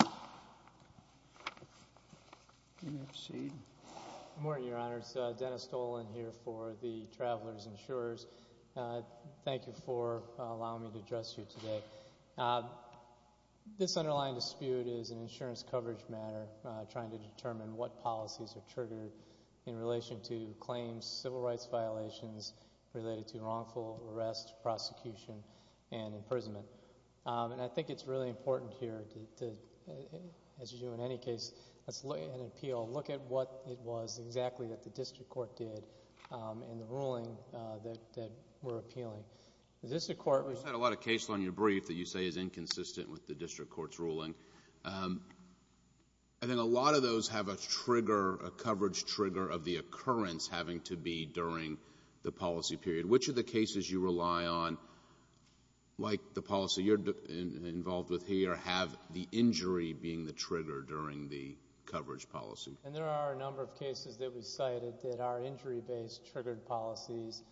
Good morning, Your Honors. Dennis Dolan here for the Travelers Insurers. Thank you for allowing me to address you today. This underlying dispute is an insurance coverage matter trying to determine what policies are triggered in relation to claims, civil rights violations related to wrongful arrest, prosecution, and imprisonment. And I think it's really important here to, as you do in any case, let's look at an appeal, look at what it was exactly that the district court did in the ruling that we're appealing. The district court... You said a lot of cases on your brief that you say is inconsistent with the district court's ruling. I think a lot of those have a trigger, a coverage trigger of the occurrence having to be during the policy period. Which of the cases you rely on, like the policy you're involved with here, have the injury being the trigger during the coverage policy? And there are a number of cases that we cited that are injury-based triggered policies.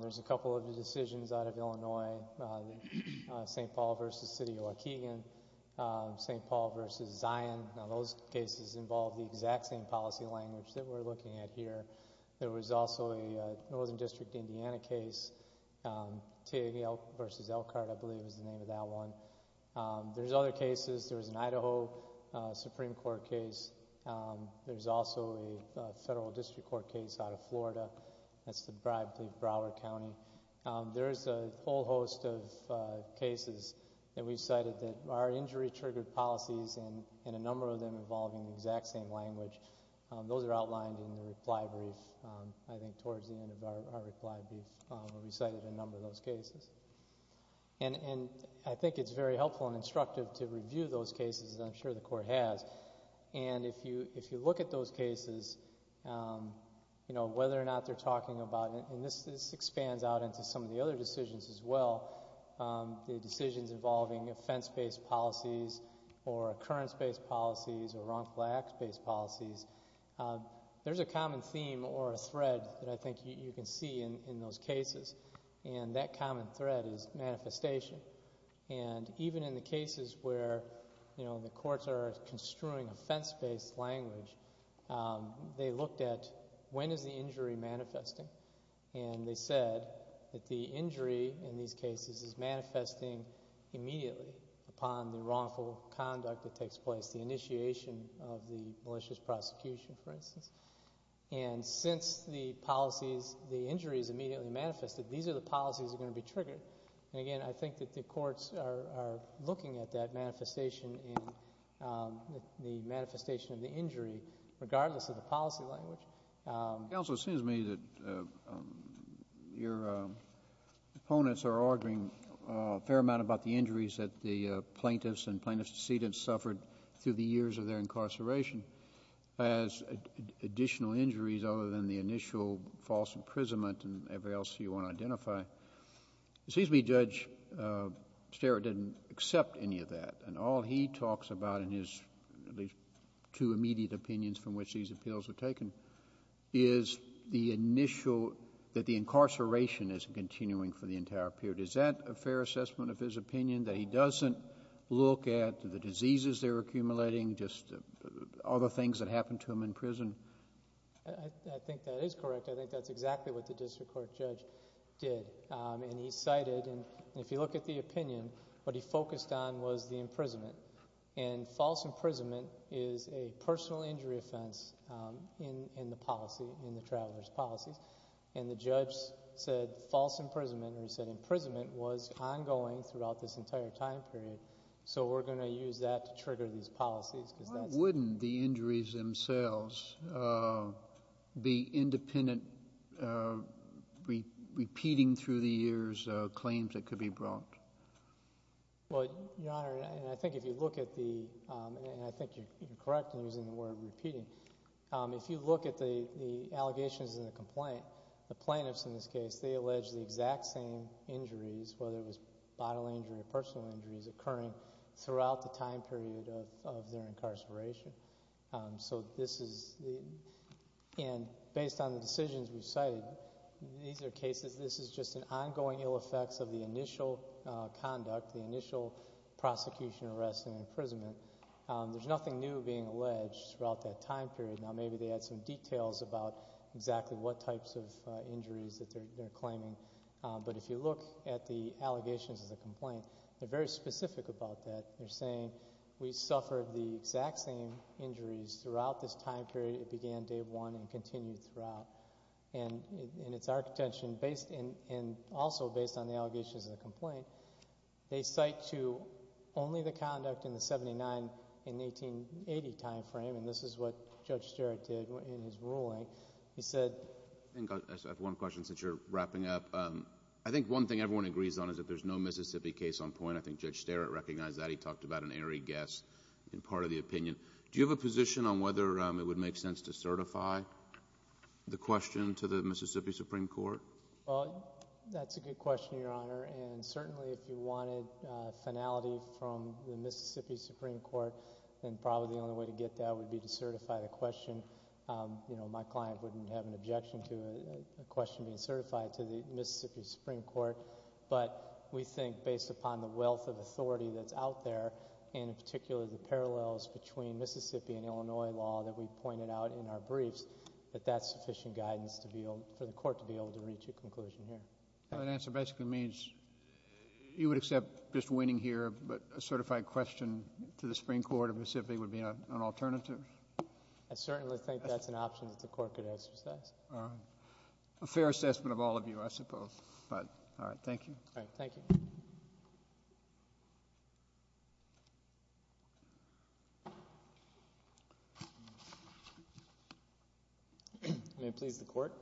There's a couple of the decisions out of Illinois, St. Paul v. City of Waukegan, St. Paul v. Zion. Now those cases involve the exact same policy language that we're looking at here. There was also a Northern District, Indiana case, Tig v. Elkhart, I believe is the name of that one. There's other cases. There was an Idaho Supreme Court case. There's also a federal district court case out of Florida. That's the bribe, I believe, Broward County. There's a whole host of cases that we've cited that are injury-triggered policies and a number of them involving the exact same language. Those are outlined in the reply brief, I think towards the end of our reply brief, where we cited a number of those cases. I think it's very helpful and instructive to review those cases, and I'm sure the Court has. If you look at those cases, whether or not they're talking about... and this expands out into some of the other decisions as well, the decisions involving offense-based policies or occurrence-based policies or wrongful acts-based policies, there's a common theme or a thread that I think you can see in those cases, and that common thread is manifestation. Even in the cases where the courts are construing offense-based language, they looked at when is the injury manifesting, and they said that the injury in these cases is manifesting immediately upon the wrongful conduct that takes place, the initiation of the malicious prosecution, for instance. Since the injuries immediately manifested, these are the policies that are going to be triggered. Again, I think that the courts are looking at that manifestation in the manifestation of the injury, regardless of the policy language. Counsel, it seems to me that your opponents are arguing a fair amount about the injuries that the plaintiffs and plaintiff's decedents suffered through the years of their incarceration as additional injuries other than the initial false imprisonment and everything else you said. What he talks about in his two immediate opinions from which these appeals were taken is that the incarceration is continuing for the entire period. Is that a fair assessment of his opinion, that he doesn't look at the diseases they're accumulating, just other things that happened to him in prison? I think that is correct. I think that's exactly what the district court judge did. He cited, if you look at the opinion, what he focused on was the imprisonment. False imprisonment is a personal injury offense in the policy, in the traveler's policies. The judge said false imprisonment, or he said imprisonment, was ongoing throughout this entire time period, so we're going to use that to trigger these policies because that's... Why wouldn't the injuries themselves be independent, repeating through the years claims that the could be brought? Your Honor, I think if you look at the... I think you're correct in using the word repeating. If you look at the allegations in the complaint, the plaintiffs in this case, they allege the exact same injuries, whether it was bodily injury or personal injuries, occurring throughout the time period of their incarceration. Based on the decisions we've cited, these are cases, this is just an ongoing ill effects of the initial conduct, the initial prosecution, arrest, and imprisonment. There's nothing new being alleged throughout that time period. Now, maybe they add some details about exactly what types of injuries that they're claiming, but if you look at the allegations of the complaint, they're very specific about that. They're saying, we suffered the exact same injuries throughout this time period. It began day one and continued throughout. It's our contention, and also based on the allegations of the complaint, they cite to only the conduct in the 79 and 1880 time frame. This is what Judge Sterritt did in his ruling. He said... I have one question since you're wrapping up. I think one thing everyone agrees on is that there's no Mississippi case on point. I think Judge Sterritt recognized that. He talked about an airy guess in part of the opinion. Do you have a position on whether it would make sense to certify the question to the Mississippi Supreme Court? That's a good question, Your Honor. Certainly, if you wanted finality from the Mississippi Supreme Court, then probably the only way to get that would be to certify the question. My client wouldn't have an objection to a question being certified to the Mississippi Supreme Court, but we think based upon the wealth of authority that's out there, and in particular, the parallels between Mississippi and Illinois law that we pointed out in our briefs, that that's sufficient guidance for the court to be able to reach a conclusion here. That answer basically means you would accept just winning here, but a certified question to the Supreme Court of Mississippi would be an alternative? I certainly think that's an option that the court could exercise. All right. A fair assessment of all of you, I suppose. All right. Thank you. All right. Thank you. May it please the Court.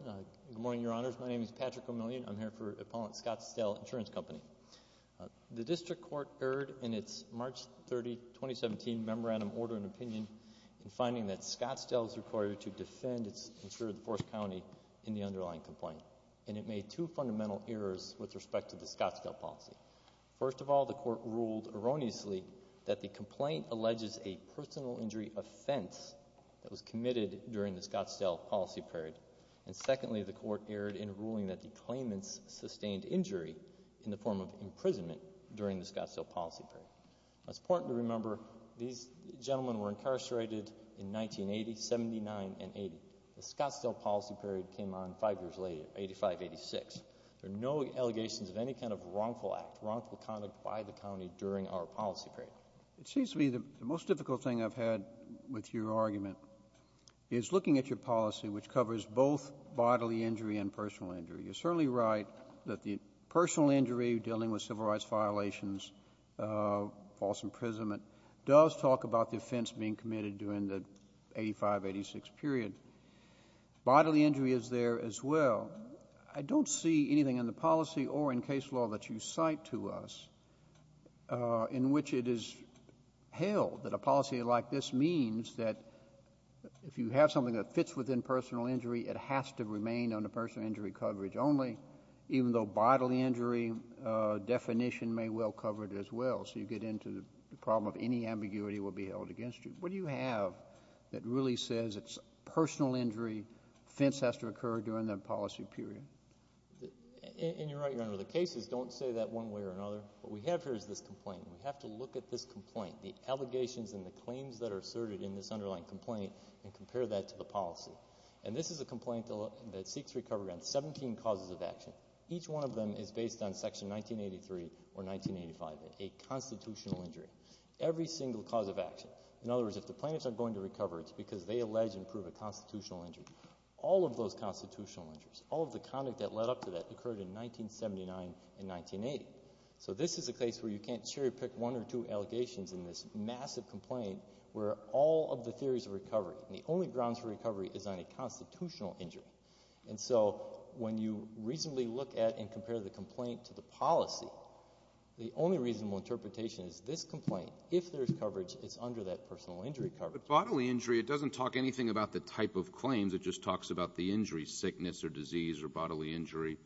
Good morning, Your Honors. My name is Patrick O'Million. I'm here for Appellant Scottsdale Insurance Company. The district court erred in its March 30, 2017 memorandum order and opinion in finding that Scottsdale is required to defend its insurer, the 4th County, in the underlying complaint, and it made two fundamental errors with respect to the Scottsdale policy. First of all, the court ruled erroneously that the complaint alleges a personal injury offense that was committed during the Scottsdale policy period, and secondly, the court erred in ruling that the claimants sustained injury in the form of imprisonment during the Scottsdale policy period. It's important to remember these gentlemen were incarcerated in 1980, 79, and 80. The allegations of any kind of wrongful act, wrongful conduct by the county during our policy period. It seems to me the most difficult thing I've had with your argument is looking at your policy, which covers both bodily injury and personal injury. You're certainly right that the personal injury dealing with civil rights violations, false imprisonment, does talk about the offense being committed during the 85, 86 period. Bodily injury is there as well. I don't see anything in the policy or in case law that you cite to us in which it is held that a policy like this means that if you have something that fits within personal injury, it has to remain under personal injury coverage only, even though bodily injury definition may well cover it as well. So you get into the problem of any ambiguity will be held against you. What do you have that really says it's personal injury, fence has occurred during the policy period? And you're right, Your Honor, the cases don't say that one way or another. What we have here is this complaint. We have to look at this complaint, the allegations and the claims that are asserted in this underlying complaint and compare that to the policy. And this is a complaint that seeks recovery on 17 causes of action. Each one of them is based on Section 1983 or 1985, a constitutional injury. Every single cause of action. In other words, if the plaintiffs are going to recover, it's because they allege a constitutional injury. All of those constitutional injuries, all of the conduct that led up to that occurred in 1979 and 1980. So this is a case where you can't cherry-pick one or two allegations in this massive complaint where all of the theories of recovery and the only grounds for recovery is on a constitutional injury. And so when you reasonably look at and compare the complaint to the policy, the only reasonable interpretation is this complaint, if there's coverage, it's under that personal injury coverage. But bodily injury, it doesn't talk anything about the type of claims. It just talks about the injury, sickness or disease or bodily injury.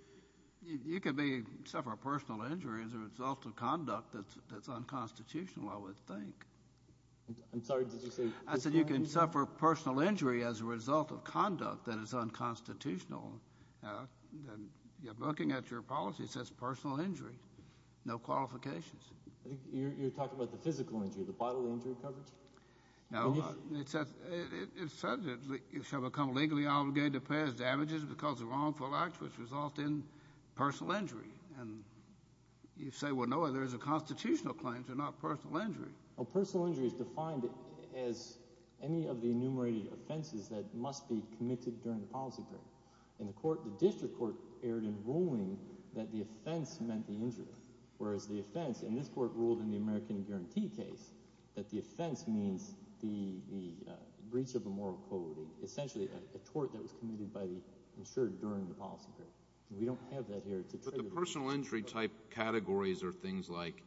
You could be, suffer a personal injury as a result of conduct that's unconstitutional, I would think. I'm sorry, did you say? I said you can suffer personal injury as a result of conduct that is unconstitutional. Looking at your policy, it says personal injury. No qualifications. I think you're talking about the physical injury, the bodily injury coverage? No, it says that you shall become legally obligated to pay as damages because of wrongful acts which result in personal injury. And you say, well, no, there's a constitutional claim to not personal injury. Well, personal injury is defined as any of the enumerated offenses that must be committed during the policy period. In the court, the district court erred in ruling that the offense meant the injury, whereas the offense, and this court ruled in the American Guarantee case, that the offense means the breach of a moral code, essentially a tort that was committed by the insured during the policy period. We don't have that here. But the personal injury type categories are things like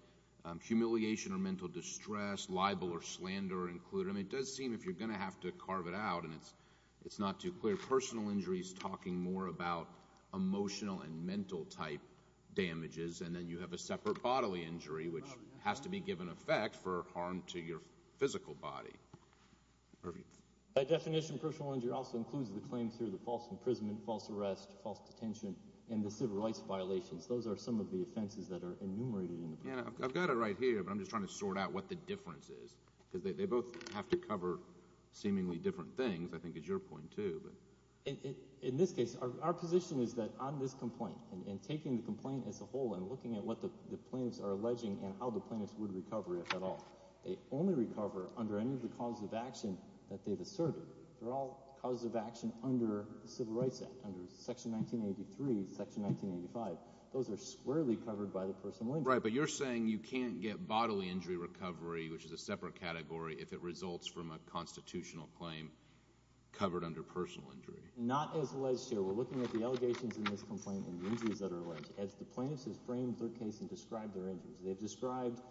humiliation or mental distress, libel or slander included. I mean, it does seem if you're going to have to carve it out, and it's not too clear, personal injury is talking more about emotional and mental type damages, and then you have a separate bodily injury, which has to be given effect for harm to your physical body. By definition, personal injury also includes the claims here, the false imprisonment, false arrest, false detention, and the civil rights violations. Those are some of the offenses that are enumerated in the program. Yeah, I've got it right here, but I'm just trying to sort out what the difference is because they both have to cover seemingly different things, I think is your point too. In this case, our position is that on this complaint, and taking the complaint as a whole and looking at what the plaintiffs are alleging and how the plaintiffs would recover, if at all, they only recover under any of the causes of action that they've asserted. They're all causes of action under the Civil Rights Act, under Section 1983, Section 1985. Those are squarely covered by the personal injury. Right, but you're saying you can't get bodily injury recovery, which is a separate category, if it results from a constitutional claim covered under personal injury? Not as alleged, sir. We're looking at the allegations in this complaint and the injuries that are alleged, as the plaintiffs have framed their case and described their injuries. They've described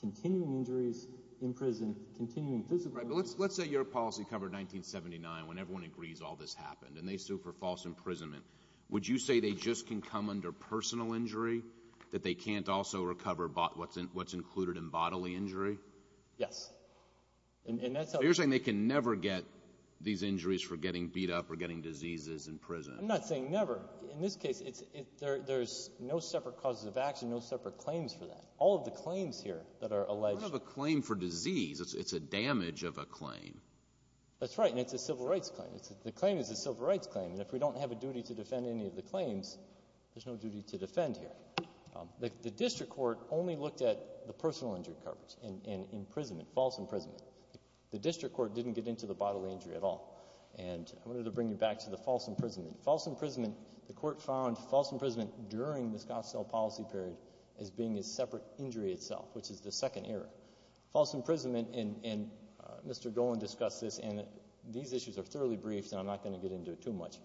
continuing injuries in prison, continuing physical injuries. Right, but let's say your policy covered 1979, when everyone agrees all this happened, and they sue for false imprisonment. Would you say they just can come under personal injury, that they can't also recover what's included in bodily injury? Yes. And that's how they can. So you're saying they can never get these injuries for getting beat up or getting diseases in prison? I'm not saying never. In this case, it's — there's no separate causes of action, no separate claims for that. All of the claims here that are alleged. It's not a claim for disease. It's a damage of a claim. That's right. And it's a civil rights claim. The claim is a civil rights claim. And if we don't have a duty to defend any of the claims, there's no duty to defend here. The district court only looked at the personal injury coverage and imprisonment, false imprisonment. The district court didn't get into the bodily injury at all. And I wanted to bring you back to the false imprisonment. False imprisonment, the court found false imprisonment during the Scottsdale policy period as being a separate injury itself, which is the second error. False imprisonment — and Mr. Golan discussed this, and these issues are thoroughly briefed, and I'm not going to get into it too much.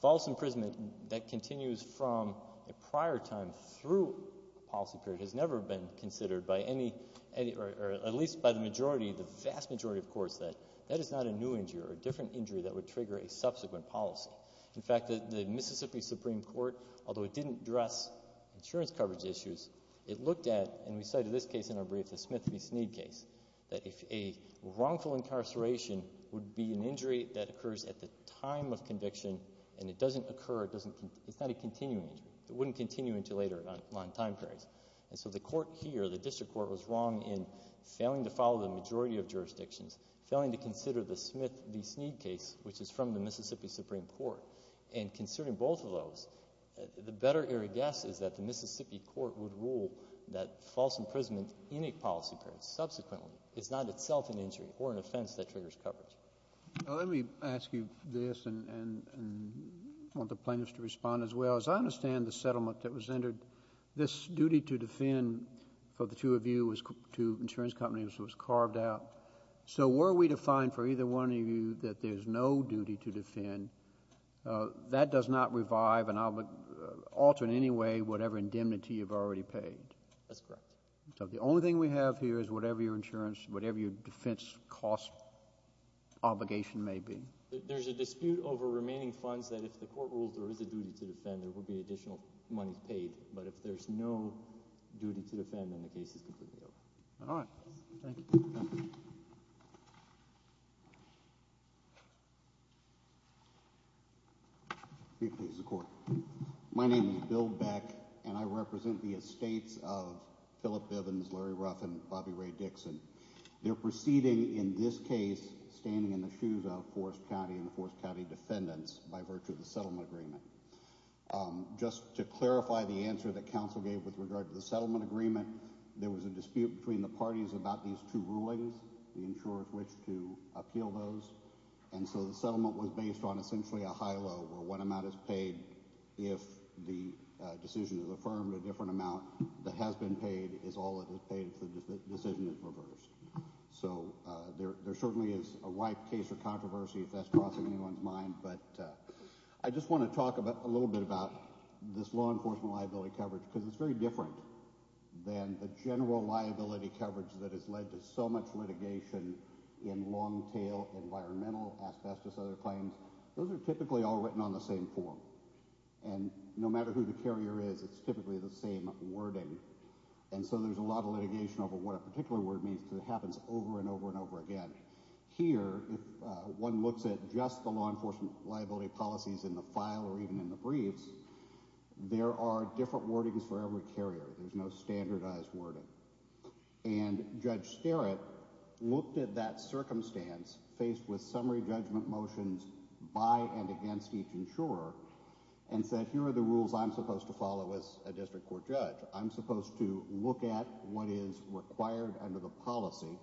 False imprisonment, that continues from a prior time through a policy period, has never been considered by any — or at least by the majority, the vast majority of courts, that that is not a new injury or a different injury that would trigger a subsequent policy. In fact, the Mississippi Supreme Court, although it didn't address insurance coverage issues, it looked at — and we cited this case in our brief, the Smith v. Sneed case — that if a wrongful incarceration would be an injury that occurs at the time of conviction and it doesn't occur, it doesn't — it's not a continuing injury. It wouldn't continue until later on time periods. And so the court here, the district court, was wrong in failing to follow the majority of jurisdictions, failing to consider the Smith v. Sneed case, which is from the Mississippi Supreme Court. And considering both of those, the better error guess is that the Mississippi court would rule that false imprisonment in a policy period, subsequently, is not itself an injury or an offense that triggers coverage. Let me ask you this and want the plaintiffs to respond as well. As I understand the settlement that was entered, this duty to defend for the two of you, two insurance companies, was carved out. So were we to find for either one of you that there's no duty to defend, that does not revive and alter in any way whatever indemnity you've already paid? That's correct. So the only thing we have here is whatever your insurance, whatever your defense cost obligation may be. There's a dispute over remaining funds that if the court rules there is a duty to defend, there will be additional monies paid. But if there's no duty to defend, then the case is completely over. All right. Thank you. Repeat, please, the court. My name is Bill Beck, and I represent the estates of Philip Bivins, Larry Ruffin, Bobby Ray Dixon. They're proceeding in this case standing in the shoes of Forest County and the Forest County defendants by virtue of the settlement agreement. Just to clarify the answer that counsel gave with regard to the settlement agreement, there was a dispute between the parties about these two rulings, the insurers which to appeal those. And so the settlement was based on essentially a high-low where one amount is paid if the decision is affirmed, a different amount that has been paid is all that is paid if the decision is reversed. So there certainly is a wide case of controversy if that's crossing anyone's mind. But I just want to talk a little bit about this law enforcement liability coverage, because it's very different than the general liability coverage that has led to so much litigation in long-tail environmental asbestos other claims. Those are typically all written on the same form. And no matter who the carrier is, it's typically the same wording. And so there's a lot of litigation over what a particular word means because it happens over and over and over again. Here, if one looks at just the law enforcement liability policies in the file or even in the briefs, there are different wordings for every carrier. There's no standardized wording. And Judge Sterritt looked at that circumstance faced with summary judgment motions by and against each insurer and said, here are the rules I'm supposed to follow as a district court judge. I'm supposed to look at what is required under the policy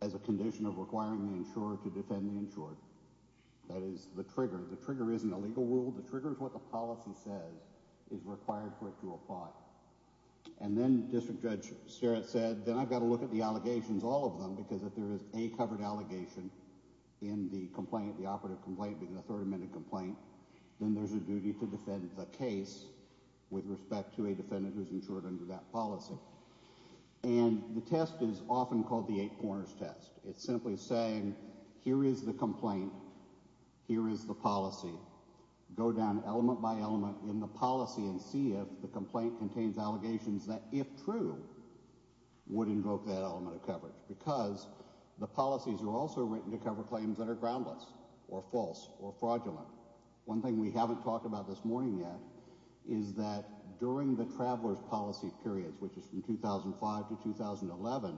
as a condition of requiring the insurer to defend the insured. That is the trigger. The trigger isn't a legal rule. The trigger is what the policy says is required for it to apply. And then District Judge Sterritt said, then I've got to look at the allegations, all of them, because if there is a covered allegation in the complaint, the operative complaint, the third amendment complaint, then there's a duty to defend the case with respect to a defendant who's insured under that policy. And the test is often called the eight corners test. It's simply saying, here is the complaint. Here is the policy. Go down element by element in the policy and see if the complaint contains allegations that, if true, would invoke that element of fraudulence. One thing we haven't talked about this morning yet is that during the traveler's policy periods, which is from 2005 to 2011,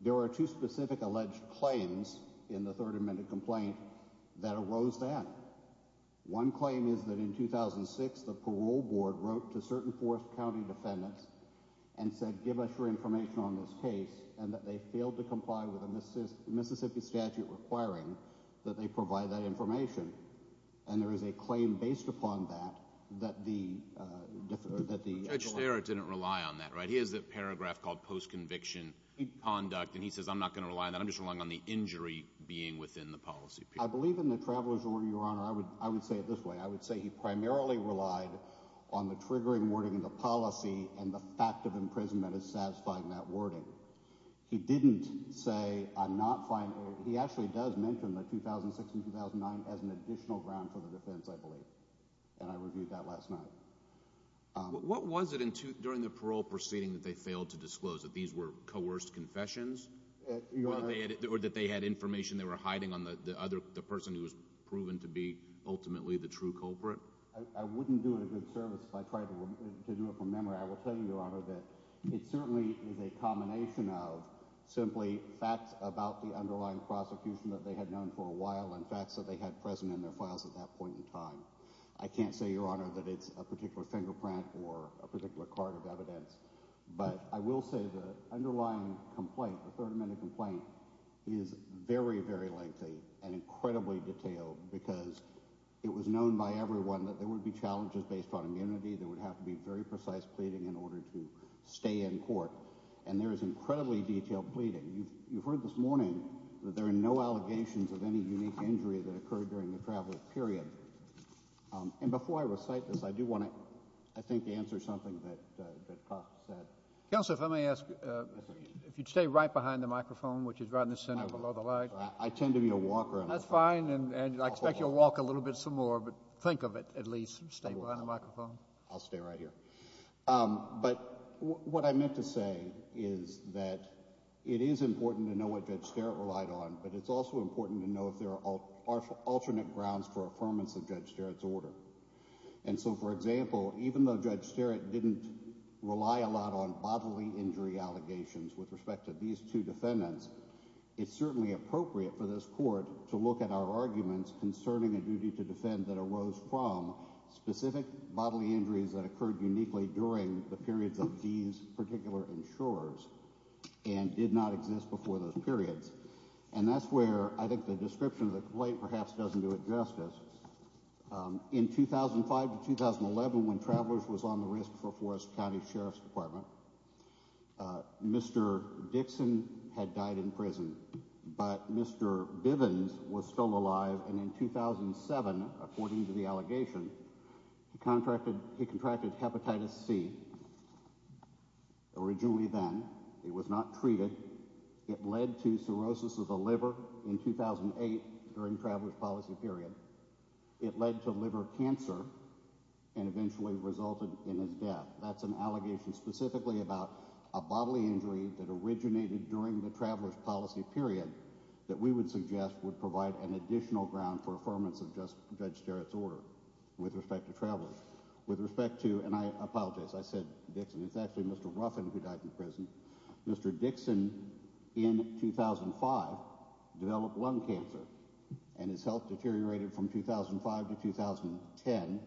there are two specific alleged claims in the third amendment complaint that arose that one claim is that in 2006, the parole board wrote to certain fourth county defendants and said, give us your information on this case and that they failed to and there is a claim based upon that, that the, uh, that the judge didn't rely on that, right? He has a paragraph called post-conviction conduct, and he says, I'm not going to rely on that. I'm just relying on the injury being within the policy. I believe in the traveler's order. Your honor, I would, I would say it this way. I would say he primarily relied on the triggering wording and the policy and the fact of imprisonment is satisfying that wording. He didn't say I'm not he actually does mention the 2006 and 2009 as an additional ground for the defense, I believe, and I reviewed that last night. What was it in tooth during the parole proceeding that they failed to disclose that these were coerced confessions or that they had information they were hiding on the other person who was proven to be ultimately the true culprit? I wouldn't do it a good service if I tried to do it from memory. I will tell you, your honor, that it certainly is a combination of simply facts about the underlying prosecution that they had known for a while and facts that they had present in their files at that point in time. I can't say, your honor, that it's a particular fingerprint or a particular card of evidence, but I will say the underlying complaint, the third amendment complaint is very, very lengthy and incredibly detailed because it was known by everyone that there would be challenges based on immunity. There would have to be very precise pleading in order to stay in court, and there is incredibly detailed pleading. You've heard this morning that there are no allegations of any unique injury that occurred during the travel period, and before I recite this, I do want to, I think, answer something that that cops said. Counselor, if I may ask, if you'd stay right behind the microphone, which is right in the center below the light. I tend to be a walker. That's fine, and I expect you'll walk a little bit some more, but think of it at least. Stay behind the microphone. I'll stay right here, but what I meant to say is that it is important to know what Judge Sterritt relied on, but it's also important to know if there are alternate grounds for affirmance of Judge Sterritt's order, and so, for example, even though Judge Sterritt didn't rely a lot on bodily injury allegations with respect to these two defendants, it's certainly appropriate for this court to look at our arguments concerning a duty to defend that occurred uniquely during the periods of these particular insurers and did not exist before those periods, and that's where I think the description of the complaint perhaps doesn't do it justice. In 2005 to 2011, when Travelers was on the risk for Forest County Sheriff's Department, Mr. Dixon had died in prison, but Mr. Bivens was still alive, and in 2007, according to the complaint, he contracted hepatitis C. Originally then, he was not treated. It led to cirrhosis of the liver in 2008 during Travelers' policy period. It led to liver cancer and eventually resulted in his death. That's an allegation specifically about a bodily injury that originated during the Travelers' policy period that we would suggest would provide an additional ground for affirmance of Judge Sterritt's order with respect to Travelers. With respect to, and I apologize, I said Dixon. It's actually Mr. Ruffin who died in prison. Mr. Dixon, in 2005, developed lung cancer and his health deteriorated from 2005 to 2010.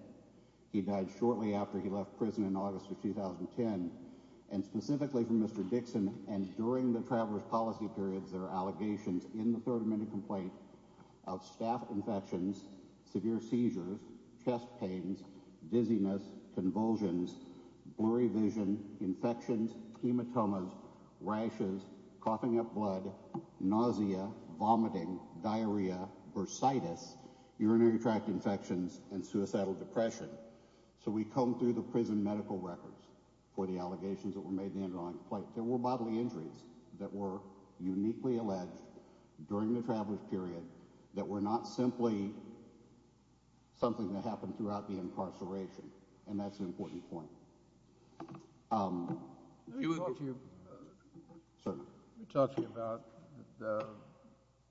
He died shortly after he left prison in August of 2010, and specifically from Mr. Dixon and during the Travelers' policy period, there are allegations in the third amendment complaint of staph infections, severe seizures, chest pains, dizziness, convulsions, blurry vision, infections, hematomas, rashes, coughing up blood, nausea, vomiting, diarrhea, bursitis, urinary tract infections, and suicidal depression. So we combed through the prison medical records for the allegations that were made in the underlying complaint. There were bodily injuries that were uniquely alleged during the Travelers' period that were not simply something that happened throughout the incarceration, and that's an important point. Let me talk to you about the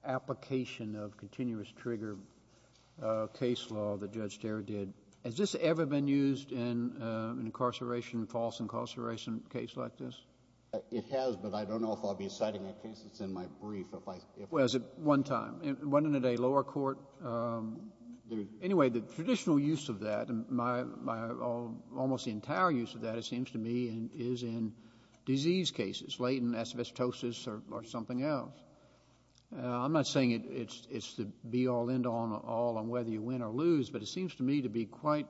application of continuous trigger case law that Judge Sterritt did. Has this ever been used in an incarceration, false incarceration case like this? It has, but I don't know if I'll be citing that case. It's in my brief. Well, it was at one time. It went into a lower court. Anyway, the traditional use of that, almost the entire use of that, it seems to me, is in disease cases, latent asbestosis or something else. I'm not saying it's the be-all, end-all on whether you win or lose, but it seems to me to be particularly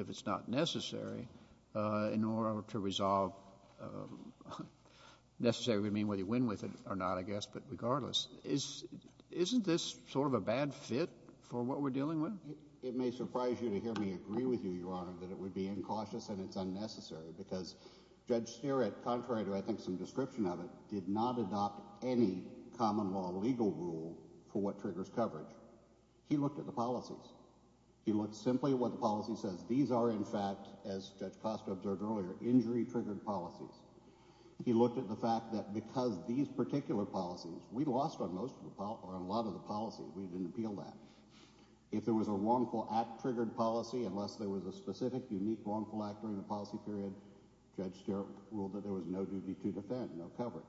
if it's not necessary in order to resolve, necessary would mean whether you win with it or not, I guess, but regardless. Isn't this sort of a bad fit for what we're dealing with? It may surprise you to hear me agree with you, Your Honor, that it would be incautious and it's unnecessary because Judge Sterritt, contrary to, I think, some description of it, did not adopt any common law legal rule for what triggers coverage. He looked at the policies. He looked simply at what the policy says. These are, in fact, as Judge Costa observed earlier, injury-triggered policies. He looked at the fact that because these particular policies, we lost on a lot of the policies. We didn't appeal that. If there was a wrongful act-triggered policy, unless there was a specific, unique, wrongful act during the policy period, Judge Sterritt ruled that there was no duty to defend, no coverage,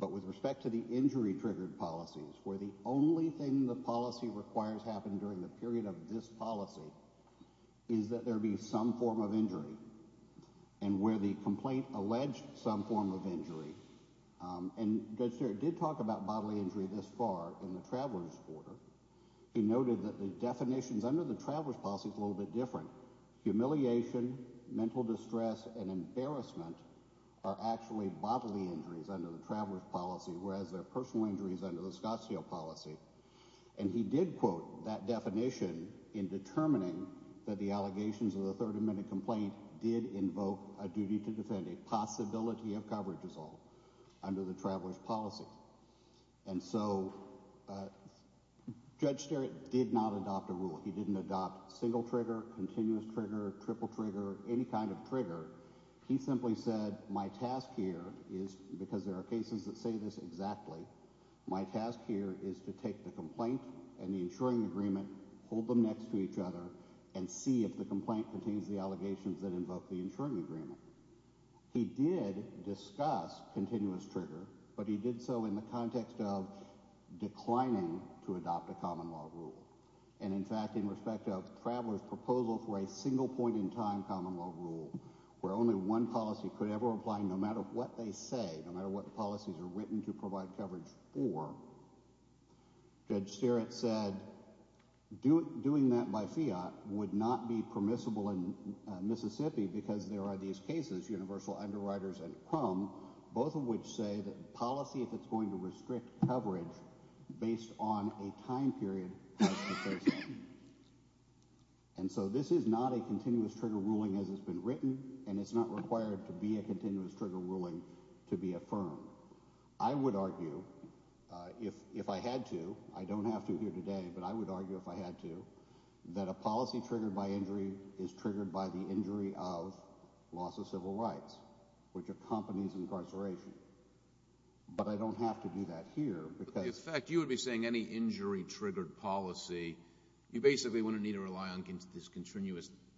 but with respect to the injury-triggered policies, where the only thing the policy requires happen during the period of this policy is that there be some form of injury and where the complaint alleged some form of injury. And Judge Sterritt did talk about bodily injury this far in the Traveler's Order. He noted that the definitions under the Traveler's Policy is a little bit different. Humiliation, mental distress, and embarrassment are actually bodily injuries under the Traveler's Policy, whereas they're personal injuries under the Scottsdale Policy. And he did quote that definition in determining that the allegations of the 30-minute complaint did invoke a duty to defend a possibility of coverage assault under the Traveler's Policy. And so Judge Sterritt did not adopt a rule. He didn't adopt single-trigger, continuous-trigger, triple-trigger, any kind of trigger. He simply said, my task here is, because there are cases that say this exactly, my task here is to take the complaint and the insuring agreement, hold them next to each other, and see if the complaint contains the allegations that invoke the insuring agreement. He did discuss continuous-trigger, but he did so in the context of declining to adopt a common law rule. And in fact, in respect of Traveler's Common Law Rule, where only one policy could ever apply no matter what they say, no matter what policies are written to provide coverage for, Judge Sterritt said doing that by fiat would not be permissible in Mississippi because there are these cases, Universal Underwriters and Crum, both of which say that policy, if it's going to restrict coverage based on a time period, has to first happen. And so this is not a continuous-trigger ruling as it's been written, and it's not required to be a continuous-trigger ruling to be affirmed. I would argue, if I had to, I don't have to here today, but I would argue if I had to, that a policy triggered by injury is triggered by the injury of loss of civil rights, which accompanies incarceration. But I don't have to do that here, because... In fact, you would be saying any injury-triggered policy, you basically wouldn't need to rely on this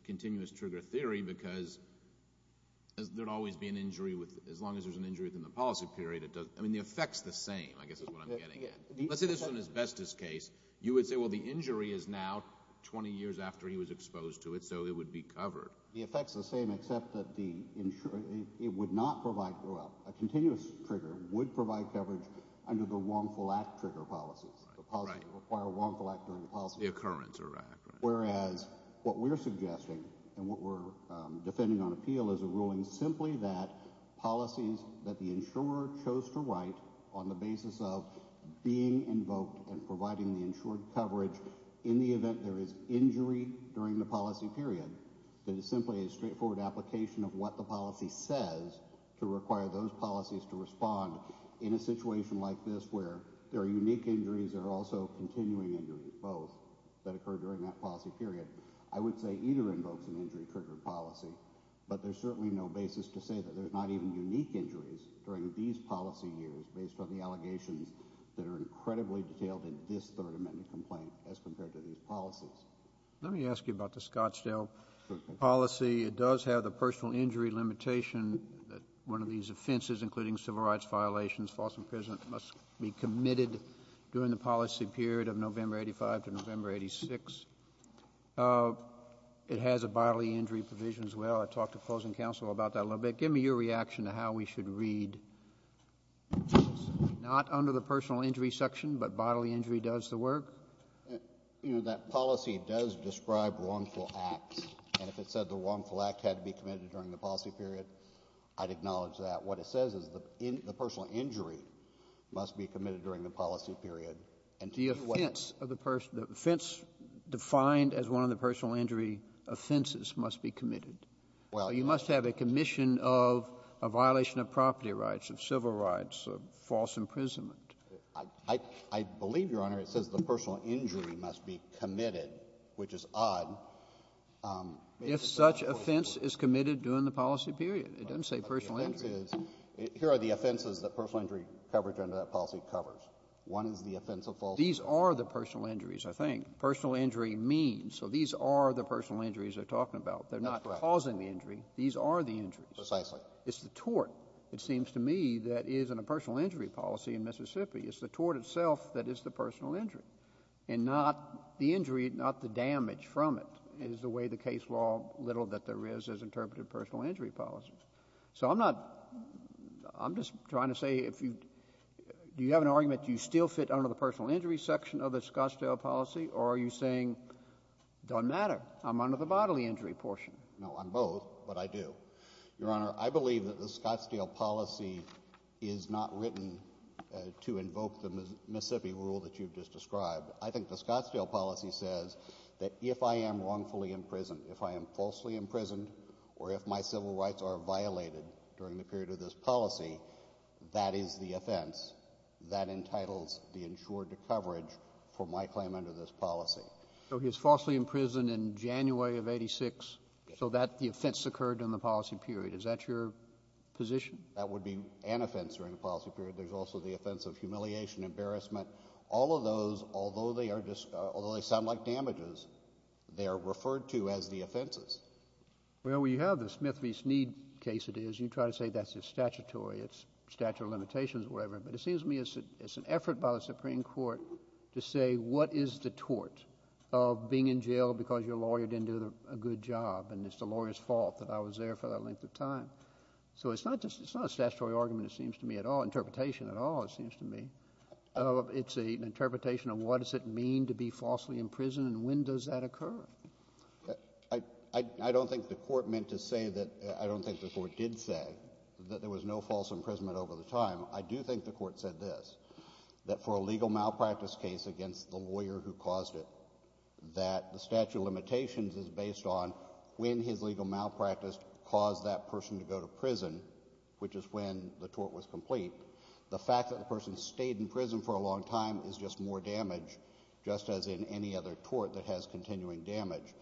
continuous-trigger theory because there'd always be an injury with, as long as there's an injury within the policy period, it doesn't, I mean, the effect's the same, I guess is what I'm getting at. Let's say this is an asbestos case. You would say, well, the injury is now 20 years after he was exposed to it, so it would be covered. The effect's the same, except that the, it would not provide, a continuous-trigger would provide coverage under the wrongful-act-trigger policies, the policy would require a wrongful act during the policy period. The occurrence of an act, right. Whereas, what we're suggesting, and what we're defending on appeal is a ruling simply that policies that the insurer chose to write on the basis of being invoked and providing the insured coverage in the event there is injury during the policy period, that is simply a those policies to respond in a situation like this where there are unique injuries that are also continuing injuries, both, that occur during that policy period. I would say either invokes an injury-trigger policy, but there's certainly no basis to say that there's not even unique injuries during these policy years based on the allegations that are incredibly detailed in this Third Amendment complaint as compared to these policies. Let me ask you about the Scottsdale policy. It does have the personal injury limitation that one of these offenses, including civil rights violations, false imprisonment, must be committed during the policy period of November 85 to November 86. It has a bodily injury provision as well. I talked to closing counsel about that a little bit. Give me your reaction to how we should read not under the personal injury section, but bodily injury does the work? You know, that policy does describe wrongful acts. And if it said the wrongful act had to be committed during the policy period, I'd acknowledge that. What it says is the personal injury must be committed during the policy period. And to do what? The offense of the person, the offense defined as one of the personal injury offenses must be committed. Well, you must have a commission of a violation of property rights, of civil rights, of false imprisonment. I believe, Your Honor, it says the personal injury must be committed, which is odd. If such offense is committed during the policy period, it doesn't say personal injury. But the offense is, here are the offenses that personal injury coverage under that policy covers. One is the offense of false imprisonment. These are the personal injuries, I think. Personal injury means. So these are the personal injuries they're talking about. They're not causing the injury. These are the injuries. Precisely. It's the tort, it seems to me, that is in a personal injury policy in Mississippi. It's the tort itself that is the personal injury, and not the injury, not the damage from it is the way the case law, little that there is, has interpreted personal injury policies. So I'm not — I'm just trying to say if you — do you have an argument you still fit under the personal injury section of the Scottsdale policy, or are you saying it doesn't matter, I'm under the bodily injury portion? No, I'm both, but I do. Your Honor, I believe that the Scottsdale policy is not written to invoke the Mississippi rule that you've just described. I think the Scottsdale policy says that if I am wrongfully imprisoned, if I am falsely imprisoned, or if my civil rights are violated during the period of this policy, that is the offense that entitles the insured to coverage for my claim under this policy. So he was falsely imprisoned in January of 86, so that — the offense occurred in the policy period. Is that your position? That would be an offense during the policy period. There's also the offense of humiliation, embarrassment. All of those, although they are — although they sound like damages, they are referred to as the offenses. Well, you have the Smith v. Sneed case, it is. You try to say that's just statutory, it's statute of limitations, whatever. But it seems to me it's an effort by the Supreme Court to say what is the tort of being in jail because your lawyer didn't do a good job, and it's the lawyer's fault that I was there for that length of time. So it's not just — it's not a statutory argument, it seems to me, at all — interpretation at all, it seems to me. It's an interpretation of what does it mean to be falsely imprisoned and when does that occur. I don't think the Court meant to say that — I don't think the Court did say that there was no false imprisonment over the time. I do think the Court said this, that for a legal malpractice case against the lawyer who caused it, that the statute of limitations is based on when his legal malpractice caused that person to go to prison, which is when the tort was complete. The fact that the person stayed in prison for a long time is just more damage, just as in any other tort that has continuing damage.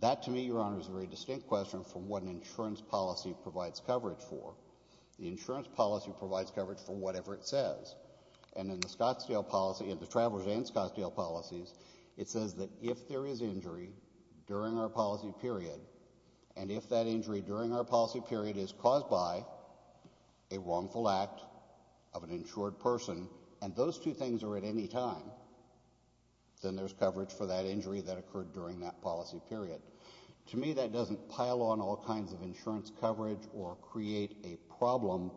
That, to me, Your Honor, is a very distinct question from what an insurance policy provides coverage for. The insurance policy provides coverage for whatever it says. And in the Scottsdale policy — in the Travelers and Scottsdale policies, it says that if there is injury during our policy period, and if that injury during our policy period is caused by a wrongful act of an insured person, and those two things are at any time, then there's coverage for that injury that occurred during that policy period. To me, that doesn't pile on all kinds of insurance coverage or create a problem,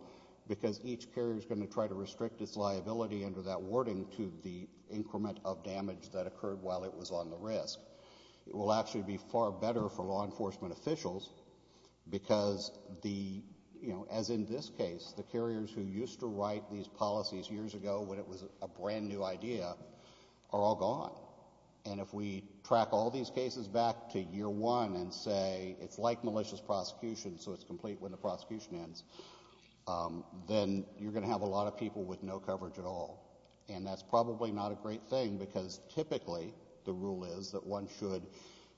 because each carrier is going to try to restrict its liability under that wording to the increment of damage that occurred while it was on the risk. It will actually be far better for law enforcement officials, because the — you know, as in this case, the carriers who used to write these policies years ago when it was a brand-new idea are all gone. And if we track all these cases back to year one and say it's like malicious prosecution, so it's complete when the prosecution ends, then you're going to have a lot of people with no coverage at all. And that's probably not a great thing, because typically the rule is that one should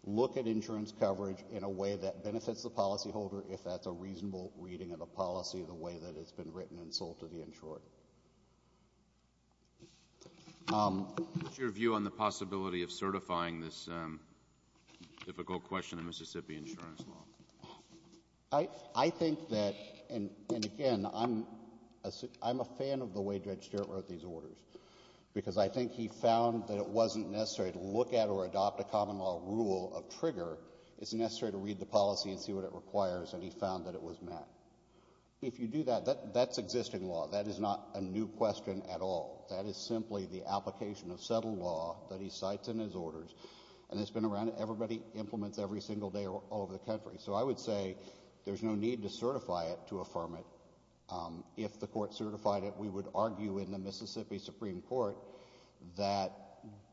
look at insurance coverage in a way that benefits the policyholder if that's a reasonable reading of a policy the way that it's been written and sold to the insured. What's your view on the possibility of certifying this difficult question of Mississippi insurance law? I think that — and again, I'm a fan of the way Judge Stewart wrote these orders, because I think he found that it wasn't necessary to look at or adopt a common law rule of trigger. It's necessary to read the policy and see what it requires, and he found that it was met. If you do that, that's existing law. That is not a new question at all. That is simply the application of settled law that he cites in his orders, and it's been around. Everybody implements every single day all over the country. So I would say there's no need to certify it to affirm it. If the Court certified it, we would argue in the Mississippi Supreme Court that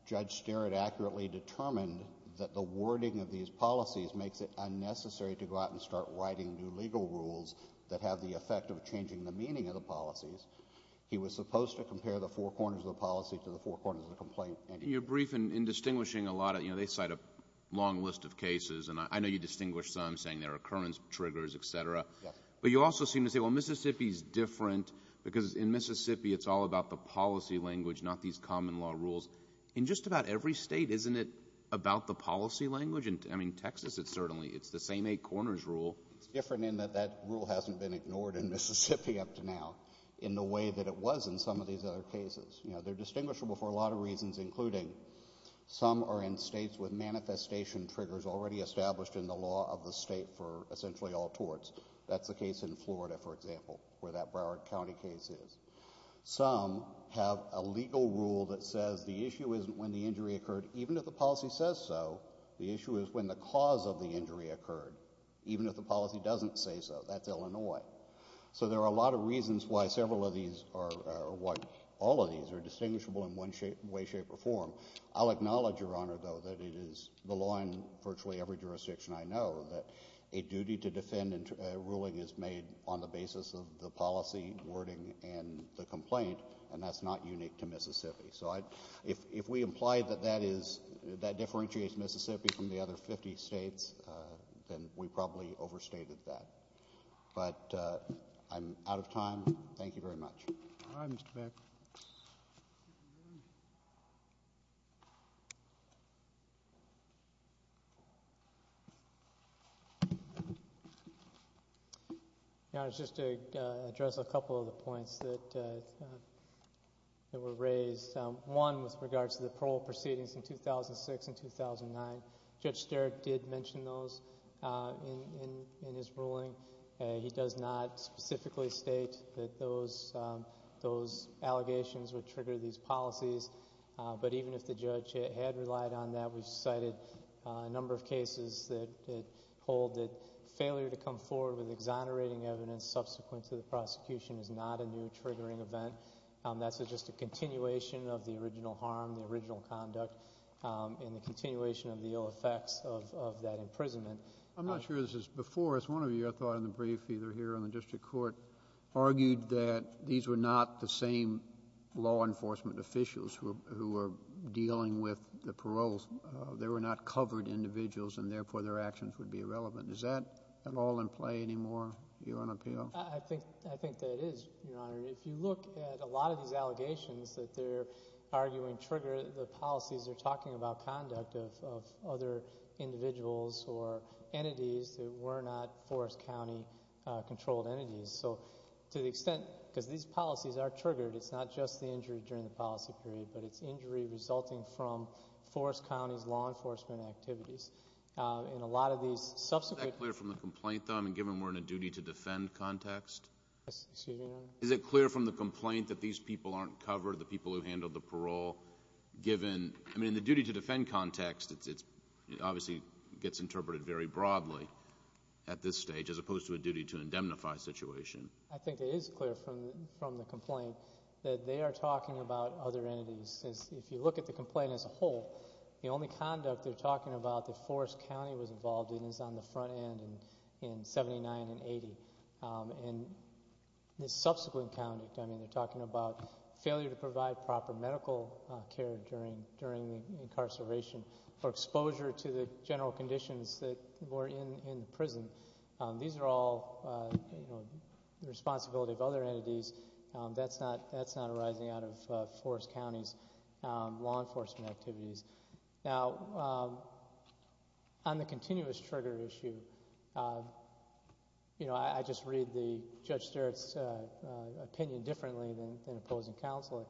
Judge Stewart accurately determined that the wording of these policies makes it unnecessary to go out and start writing new legal rules that have the effect of changing the meaning of the policies. He was supposed to compare the four corners of the policy to the four corners of the complaint. You're brief in distinguishing a lot of — you know, they cite a long list of cases, and I know you distinguish some, saying there are occurrence triggers, et cetera. Yes. But you also seem to say, well, Mississippi is different because in Mississippi it's all about the policy language, not these common law rules. In just about every State, isn't it about the policy language? I mean, Texas, it's certainly — it's the same eight corners rule. It's different in that that rule hasn't been ignored in Mississippi up to now in the way that it was in some of these other cases. You know, they're distinguishable for a lot of reasons, including some are in States with manifestation triggers already for example, where that Broward County case is. Some have a legal rule that says the issue isn't when the injury occurred, even if the policy says so. The issue is when the cause of the injury occurred, even if the policy doesn't say so. That's Illinois. So there are a lot of reasons why several of these — or why all of these are distinguishable in one way, shape, or form. I'll acknowledge, Your Honor, though, that it is the law in virtually every jurisdiction I know that a duty to defend a ruling is made on the basis of the policy, wording, and the complaint, and that's not unique to Mississippi. So I — if we imply that that is — that differentiates Mississippi from the other 50 States, then we probably overstated that. But I'm out of time. Thank you very much. All right, Mr. Beck. Your Honor, just to address a couple of the points that were raised, one with regards to the parole proceedings in 2006 and 2009. Judge Sterik did mention those in his ruling. He does not specifically state that those allegations would trigger these policies. But even if the judge had relied on that, we've cited a number of cases that hold that failure to come forward with exonerating evidence subsequent to the prosecution is not a new triggering event. That's just a continuation of the original harm, the original conduct, and the continuation of the ill effects of that imprisonment. I'm not sure this is before us. One of you, I thought, in the brief either here or in the district court, argued that these were not the same law enforcement officials who were dealing with the paroles. They were not covered individuals, and therefore their actions would be irrelevant. Is that at all in play anymore, Your Honor, PO? I think — I think that it is, Your Honor. If you look at a lot of these allegations that they're arguing trigger the policies, they're talking about conduct of other individuals or entities that were not Forest County-controlled entities. So to the extent — because these policies are triggered, it's not just the injury during the policy period, but it's injury resulting from Forest County's law enforcement activities. In a lot of these subsequent — Is that clear from the complaint, though, given we're in a duty-to-defend context? Excuse me, Your Honor? Is it clear from the complaint that these people aren't covered, the people who handled the parole, given — I mean, in the duty-to-defend context, it obviously gets interpreted very broadly at this stage, as opposed to a duty-to-indemnify situation? I think it is clear from the complaint that they are talking about other entities. If you look at the complaint as a whole, the only conduct they're talking about that Forest County was involved in is on the front end in 79 and 80. And the subsequent conduct, I mean, they're talking about failure to provide proper medical care during the incarceration or exposure to the general conditions that were in the prison. These are all, you know, the responsibility of other entities. That's not arising out of Forest County's law enforcement activities. Now, on the continuous trigger issue, you know, I just read Judge Sterritt's opinion differently than opposing counsel.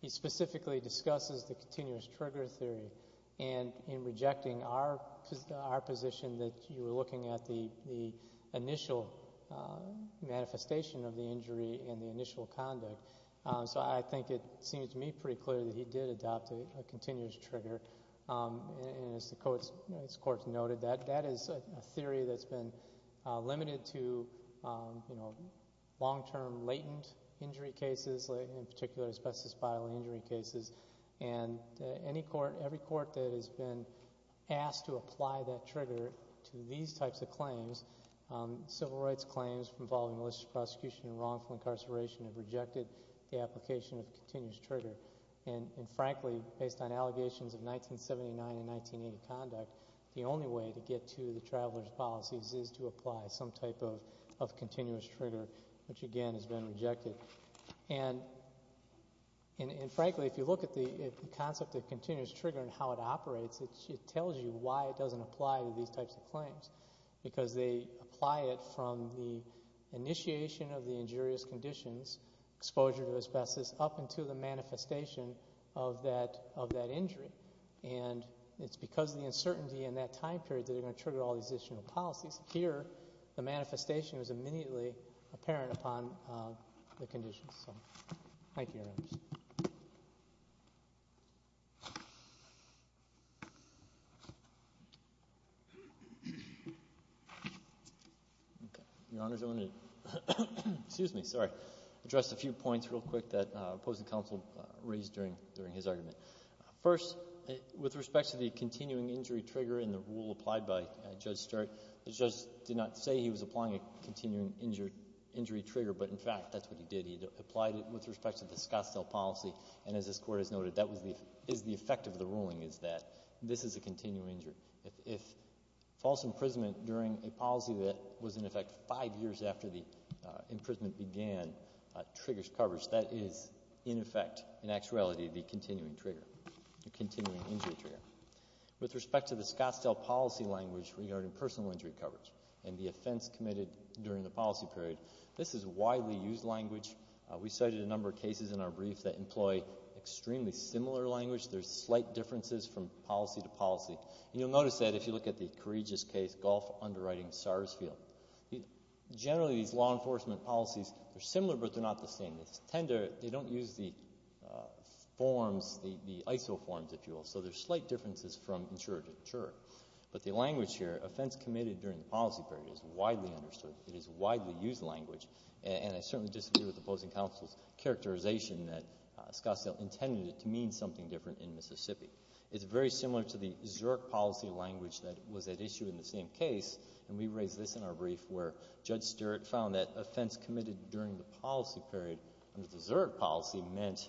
He specifically discusses the continuous trigger theory and in rejecting our position that you were looking at the initial manifestation of the injury and the initial conduct. So I think it seems to me pretty clear that he did adopt a continuous trigger. And as the courts noted, that is a theory that's been limited to, you know, long-term latent injury cases, in particular asbestos bile injury cases. And any court, every court that has been asked to apply that trigger to these types of claims, civil rights claims involving malicious prosecution and wrongful incarceration have rejected the application of continuous trigger. And frankly, based on allegations of 1979 and 1980 conduct, the only way to get to the traveler's policies is to apply some type of continuous trigger, which again has been rejected. And frankly, if you look at the concept of continuous trigger and how it operates, it tells you why it doesn't apply to these types of claims, because they apply it from the initiation of the injurious conditions, exposure to asbestos, up until the manifestation of that injury. And it's because of the uncertainty in that time period that are going to trigger all these additional policies. Here, the manifestation was immediately apparent upon the conditions. So, thank you, Your Honors. Okay. Your Honors, I want to, excuse me, sorry, address a few points real quick that opposing counsel raised during his argument. First, with respect to the continuing injury trigger and the rule applied by Judge Stewart, the judge did not say he was applying a continuing injury trigger, but in fact, that's what he did. He applied it with respect to the Scottsdale policy, and as this Court has noted, that is the effect of the ruling, is that this is a continuing injury. If false imprisonment during a policy that was in effect five years after the imprisonment began triggers coverage, that is in effect, in actuality, the continuing trigger, the continuing injury trigger. With respect to the Scottsdale policy language regarding personal injury coverage and the offense committed during the policy period, this is widely used language. We cited a number of cases in our brief that employ extremely similar language. There's slight differences from policy to policy, and you'll notice that if you look at the courageous case, Gulf underwriting Sarsfield. Generally, these law enforcement policies, they're similar, but they're not the same. They tend to, they don't use the forms, the ISO forms, if you will, so there's slight differences from insurer to insurer. But the language here, offense committed during the policy period, is widely understood. It is widely used language, and I certainly disagree with the opposing counsel's characterization that Scottsdale intended it to mean something different in Mississippi. It's very similar to the Zurich policy language that was at issue in the same case, and we raised this in our brief where Judge Stewart found that offense committed during the policy period under the Zurich policy meant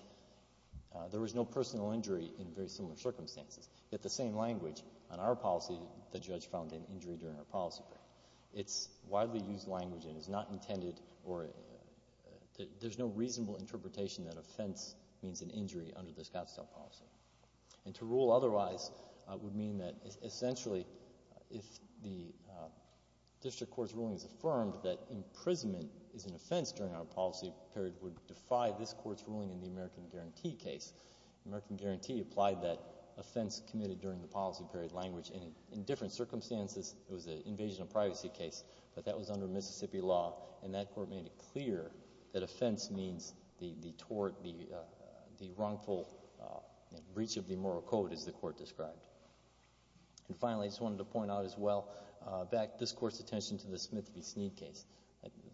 there was no personal injury in very similar circumstances. Yet the same language on our policy, the judge found an injury during our policy period. It's widely used language and is not intended, or there's no reasonable interpretation that offense means an injury under the Scottsdale policy. And to rule otherwise would mean that essentially, if the district court's ruling is affirmed that imprisonment is an offense during our policy period would defy this court's ruling in the American Guarantee case. American Guarantee applied that offense committed during the policy period language, and in different circumstances, it was an invasion of privacy case, but that was under Mississippi law, and that court made it clear that offense means the tort, the wrongful breach of the moral code, as the court described. And finally, I just wanted to point out as well, back this court's attention to the Smith v. Sneed case.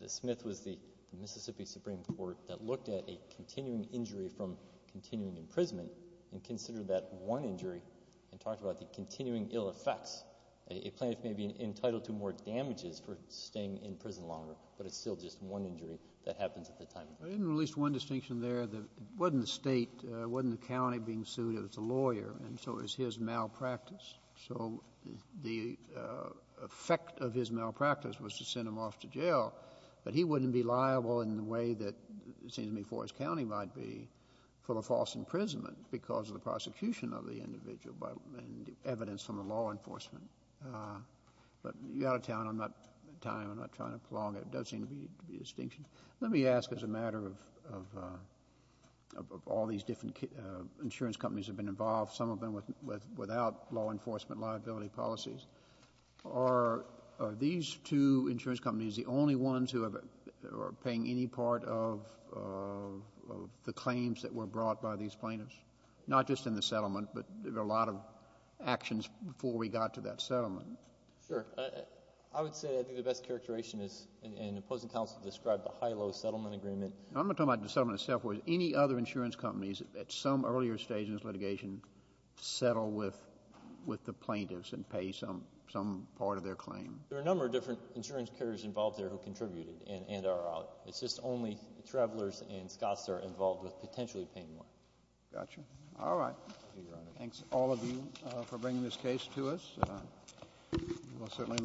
The Smith was the Mississippi Supreme Court that looked at a continuing injury from continuing imprisonment and considered that one injury and talked about the continuing ill effects. A plaintiff may be entitled to more damages for staying in prison longer, but it's still just one injury that happens at the time. I didn't release one distinction there that it wasn't the State, wasn't the county being sued, it was the lawyer, and so it was his malpractice. So the effect of his malpractice was to send him off to jail, but he wouldn't be liable in the way that, it seems to me, Forest County might be for the false imprisonment because of the prosecution of the individual and evidence from the law enforcement. But you're out of time. I'm not trying to prolong it. It does seem to be a distinction. Let me ask as a matter of all these different insurance companies have been involved, some of them without law enforcement liability policies, are these two insurance companies the only ones who are paying any part of the claims that were brought by these plaintiffs, not just in the settlement, but there were a lot of actions before we got to that settlement? Sure. I would say I think the best characterization is an opposing counsel described the HILO settlement agreement. I'm not talking about the settlement itself. Any other insurance companies at some earlier stage in this litigation settle with the plaintiffs and pay some part of their claim. There are a number of different insurance carriers involved there who contributed and are out. It's just only Travelers and Scotts are involved with potentially paying more. Gotcha. All right. Thanks, all of you, for bringing this case to us.